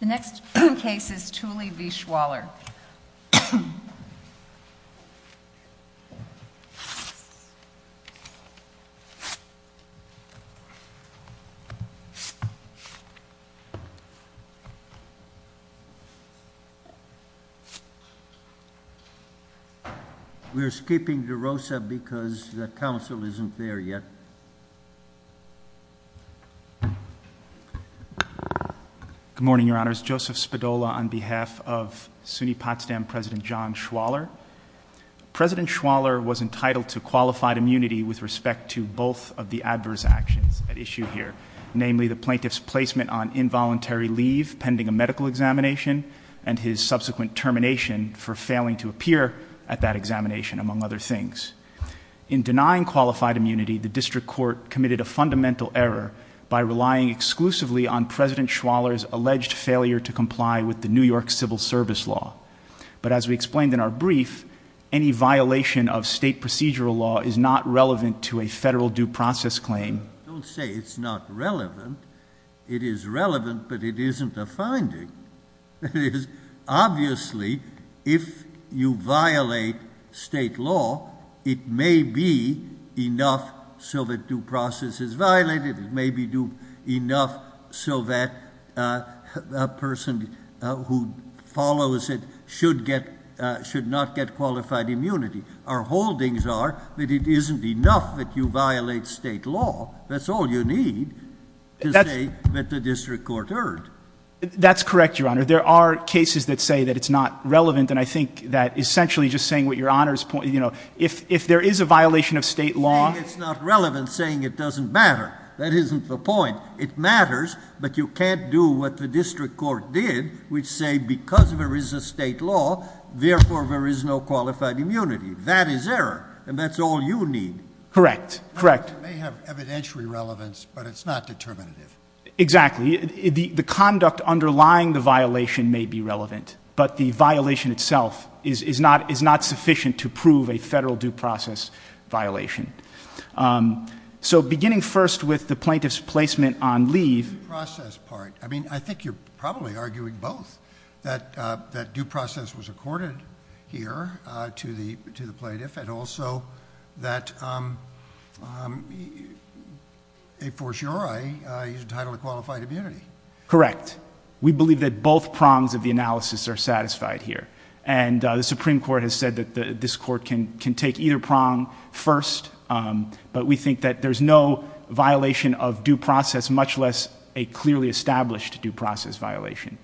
The next case is Thule v. Schwaller. We're skipping DeRosa because the council isn't there yet. Good morning, Your Honors. Joseph Spadola on behalf of SUNY Potsdam President John Schwaller. President Schwaller was entitled to qualified immunity with respect to both of the adverse actions at issue here, namely the plaintiff's placement on involuntary leave pending a medical examination and his subsequent termination for failing to appear at that examination, among other things. In denying qualified immunity, the district court committed a fundamental error by relying exclusively on President Schwaller's alleged failure to comply with the New York Civil Service law. But as we explained in our brief, any violation of state procedural law is not relevant to a federal due process claim. Don't say it's not relevant. It is relevant, but it isn't a finding. Obviously, if you violate state law, it may be enough so that due process is violated. It may be enough so that a person who follows it should not get qualified immunity. Our holdings are that it isn't enough that you violate state law. That's all you need to say that the district court erred. That's correct, Your Honor. There are cases that say that it's not relevant, and I think that essentially just saying what Your Honor's point, you know, if there is a violation of state law Saying it's not relevant, saying it doesn't matter. That isn't the point. It matters, but you can't do what the district court did, which say because there is a state law, therefore there is no qualified immunity. That is error, and that's all you need. Correct. Correct. It may have evidentiary relevance, but it's not determinative. Exactly. The conduct underlying the violation may be relevant, but the violation itself is not sufficient to prove a federal due process violation. So beginning first with the plaintiff's placement on leave. The due process part. I mean, I think you're probably arguing both, that due process was accorded here to the plaintiff, and also that a for sure I use the title of qualified immunity. Correct. We believe that both prongs of the analysis are satisfied here, and the Supreme Court has said that this court can take either prong first, but we think that there's no violation of due process, much less a clearly established due process violation.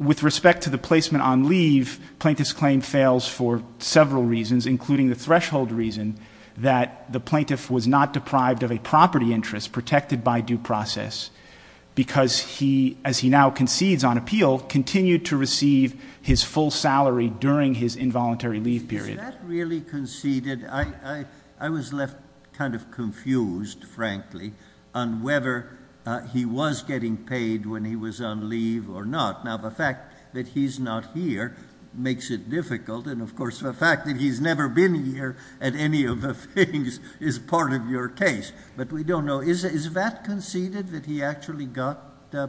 With respect to the placement on leave, plaintiff's claim fails for several reasons, including the threshold reason that the plaintiff was not deprived of a property interest protected by due process, because he, as he now concedes on appeal, continued to receive his full salary during his involuntary leave period. Is that really conceded? I was left kind of confused, frankly, on whether he was getting paid when he was on leave or not. Now, the fact that he's not here makes it difficult, and of course the fact that he's never been here at any of the things is part of your case, but we don't know. Is that conceded, that he actually got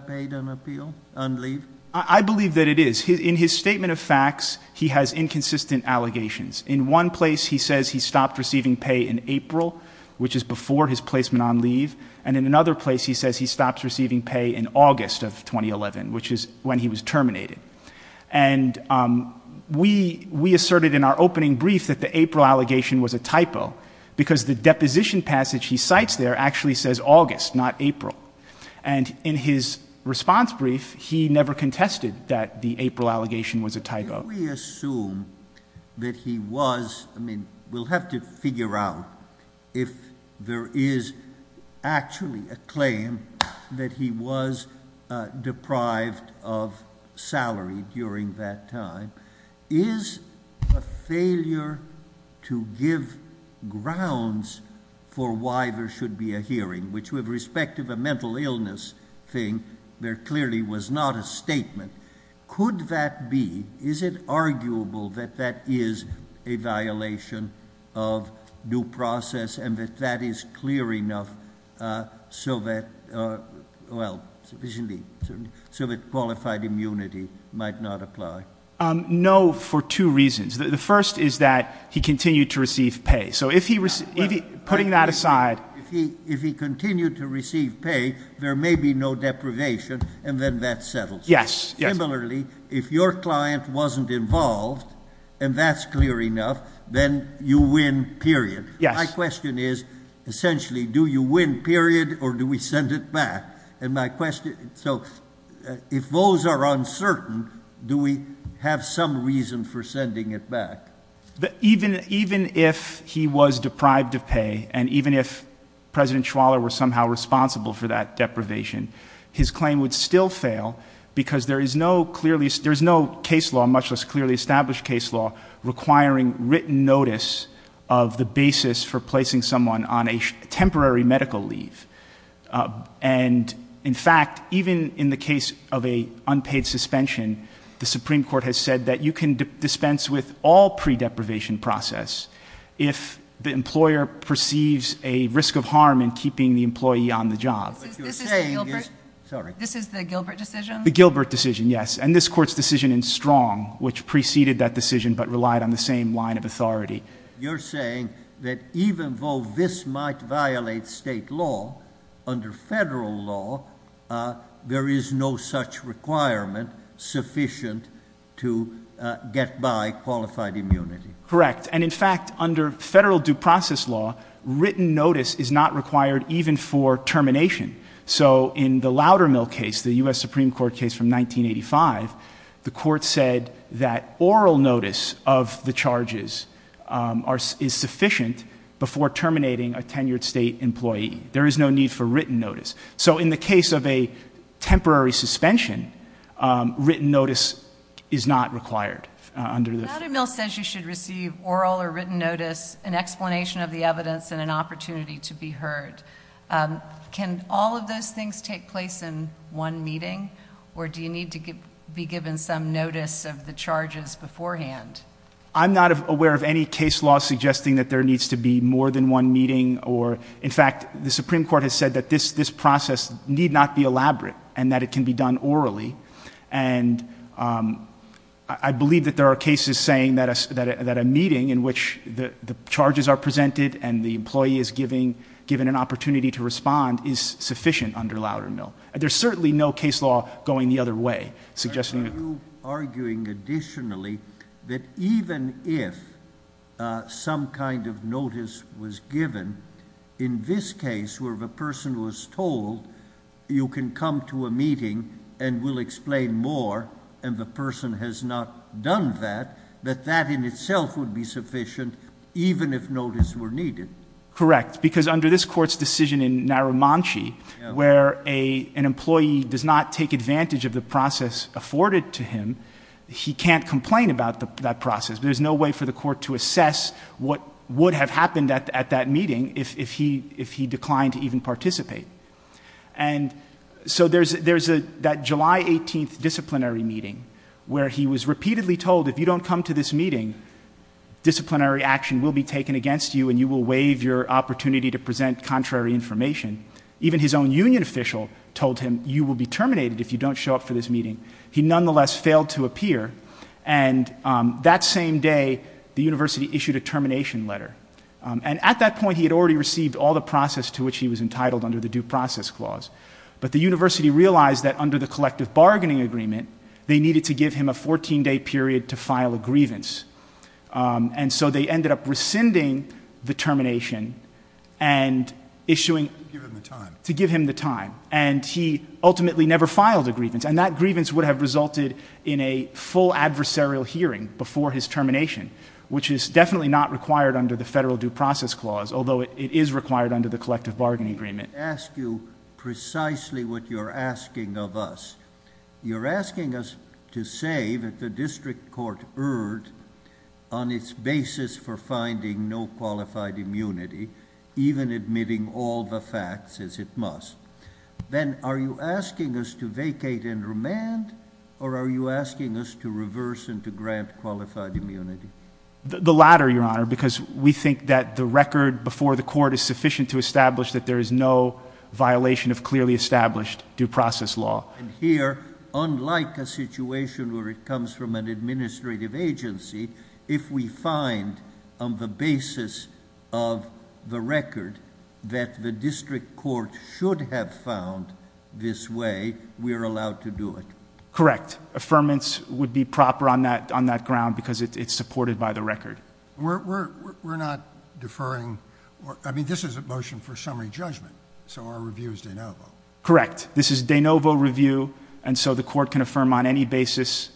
paid on appeal, on leave? I believe that it is. In his statement of facts, he has inconsistent allegations. In one place he says he stopped receiving pay in April, which is before his placement on leave, and in another place he says he stopped receiving pay in August of 2011, which is when he was terminated. And we asserted in our opening brief that the April allegation was a typo, because the deposition passage he cites there actually says August, not April. And in his response brief, he never contested that the April allegation was a typo. Could we assume that he was—I mean, we'll have to figure out if there is actually a claim that he was deprived of salary during that time. Is a failure to give grounds for why there should be a hearing, which with respect to the mental illness thing, there clearly was not a statement. Could that be—is it arguable that that is a violation of due process and that that is clear enough so that—well, sufficiently—so that qualified immunity might not apply? No, for two reasons. The first is that he continued to receive pay. So if he—putting that aside— If he continued to receive pay, there may be no deprivation, and then that settles it. Similarly, if your client wasn't involved, and that's clear enough, then you win, period. My question is, essentially, do you win, period, or do we send it back? And my question—so if those are uncertain, do we have some reason for sending it back? Even if he was deprived of pay, and even if President Schwaller was somehow responsible for that deprivation, his claim would still fail because there is no clearly—there is no case law, much less clearly established case law, requiring written notice of the basis for placing someone on a temporary medical leave. And, in fact, even in the case of an unpaid suspension, the Supreme Court has said that you can dispense with all pre-deprivation process if the employer perceives a risk of harm in keeping the employee on the job. This is the Gilbert decision? The Gilbert decision, yes, and this Court's decision in Strong, which preceded that decision but relied on the same line of authority. You're saying that even though this might violate state law, under federal law, there is no such requirement sufficient to get by qualified immunity. Correct, and, in fact, under federal due process law, written notice is not required even for termination. So in the Loudermill case, the U.S. Supreme Court case from 1985, the Court said that oral notice of the charges is sufficient before terminating a tenured state employee. There is no need for written notice. So in the case of a temporary suspension, written notice is not required under the— Loudermill says you should receive oral or written notice, an explanation of the evidence, and an opportunity to be heard. Can all of those things take place in one meeting, or do you need to be given some notice of the charges beforehand? I'm not aware of any case law suggesting that there needs to be more than one meeting. In fact, the Supreme Court has said that this process need not be elaborate and that it can be done orally, and I believe that there are cases saying that a meeting in which the charges are presented and the employee is given an opportunity to respond is sufficient under Loudermill. There's certainly no case law going the other way, suggesting that— Are you arguing additionally that even if some kind of notice was given, in this case where the person was told you can come to a meeting and we'll explain more, and the person has not done that, that that in itself would be sufficient even if notice were needed? Correct, because under this Court's decision in Narumanchi, where an employee does not take advantage of the process afforded to him, he can't complain about that process. There's no way for the Court to assess what would have happened at that meeting if he declined to even participate. And so there's that July 18th disciplinary meeting where he was repeatedly told, if you don't come to this meeting, disciplinary action will be taken against you and you will waive your opportunity to present contrary information. Even his own union official told him, you will be terminated if you don't show up for this meeting. He nonetheless failed to appear, and that same day the university issued a termination letter. And at that point he had already received all the process to which he was entitled under the Due Process Clause. But the university realized that under the collective bargaining agreement, they needed to give him a 14-day period to file a grievance. And so they ended up rescinding the termination and issuing... To give him the time. To give him the time. And he ultimately never filed a grievance, and that grievance would have resulted in a full adversarial hearing before his termination, which is definitely not required under the Federal Due Process Clause, although it is required under the collective bargaining agreement. Let me ask you precisely what you're asking of us. You're asking us to say that the district court erred on its basis for finding no qualified immunity, even admitting all the facts as it must. Then are you asking us to vacate and remand, or are you asking us to reverse and to grant qualified immunity? The latter, Your Honor, because we think that the record before the court is sufficient to establish that there is no violation of clearly established due process law. And here, unlike a situation where it comes from an administrative agency, if we find on the basis of the record that the district court should have found this way, we are allowed to do it. Correct. Affirmance would be proper on that ground because it's supported by the record. We're not deferring. I mean, this is a motion for summary judgment, so our review is de novo. Correct. This is de novo review, and so the court can affirm on any basis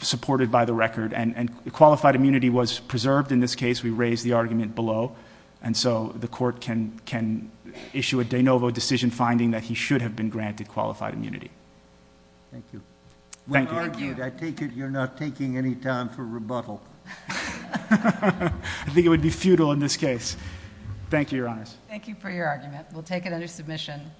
supported by the record. And qualified immunity was preserved in this case. We raised the argument below. And so the court can issue a de novo decision finding that he should have been granted qualified immunity. Thank you. When argued, I take it you're not taking any time for rebuttal. I think it would be futile in this case. Thank you, Your Honors. Thank you for your argument. We'll take it under submission.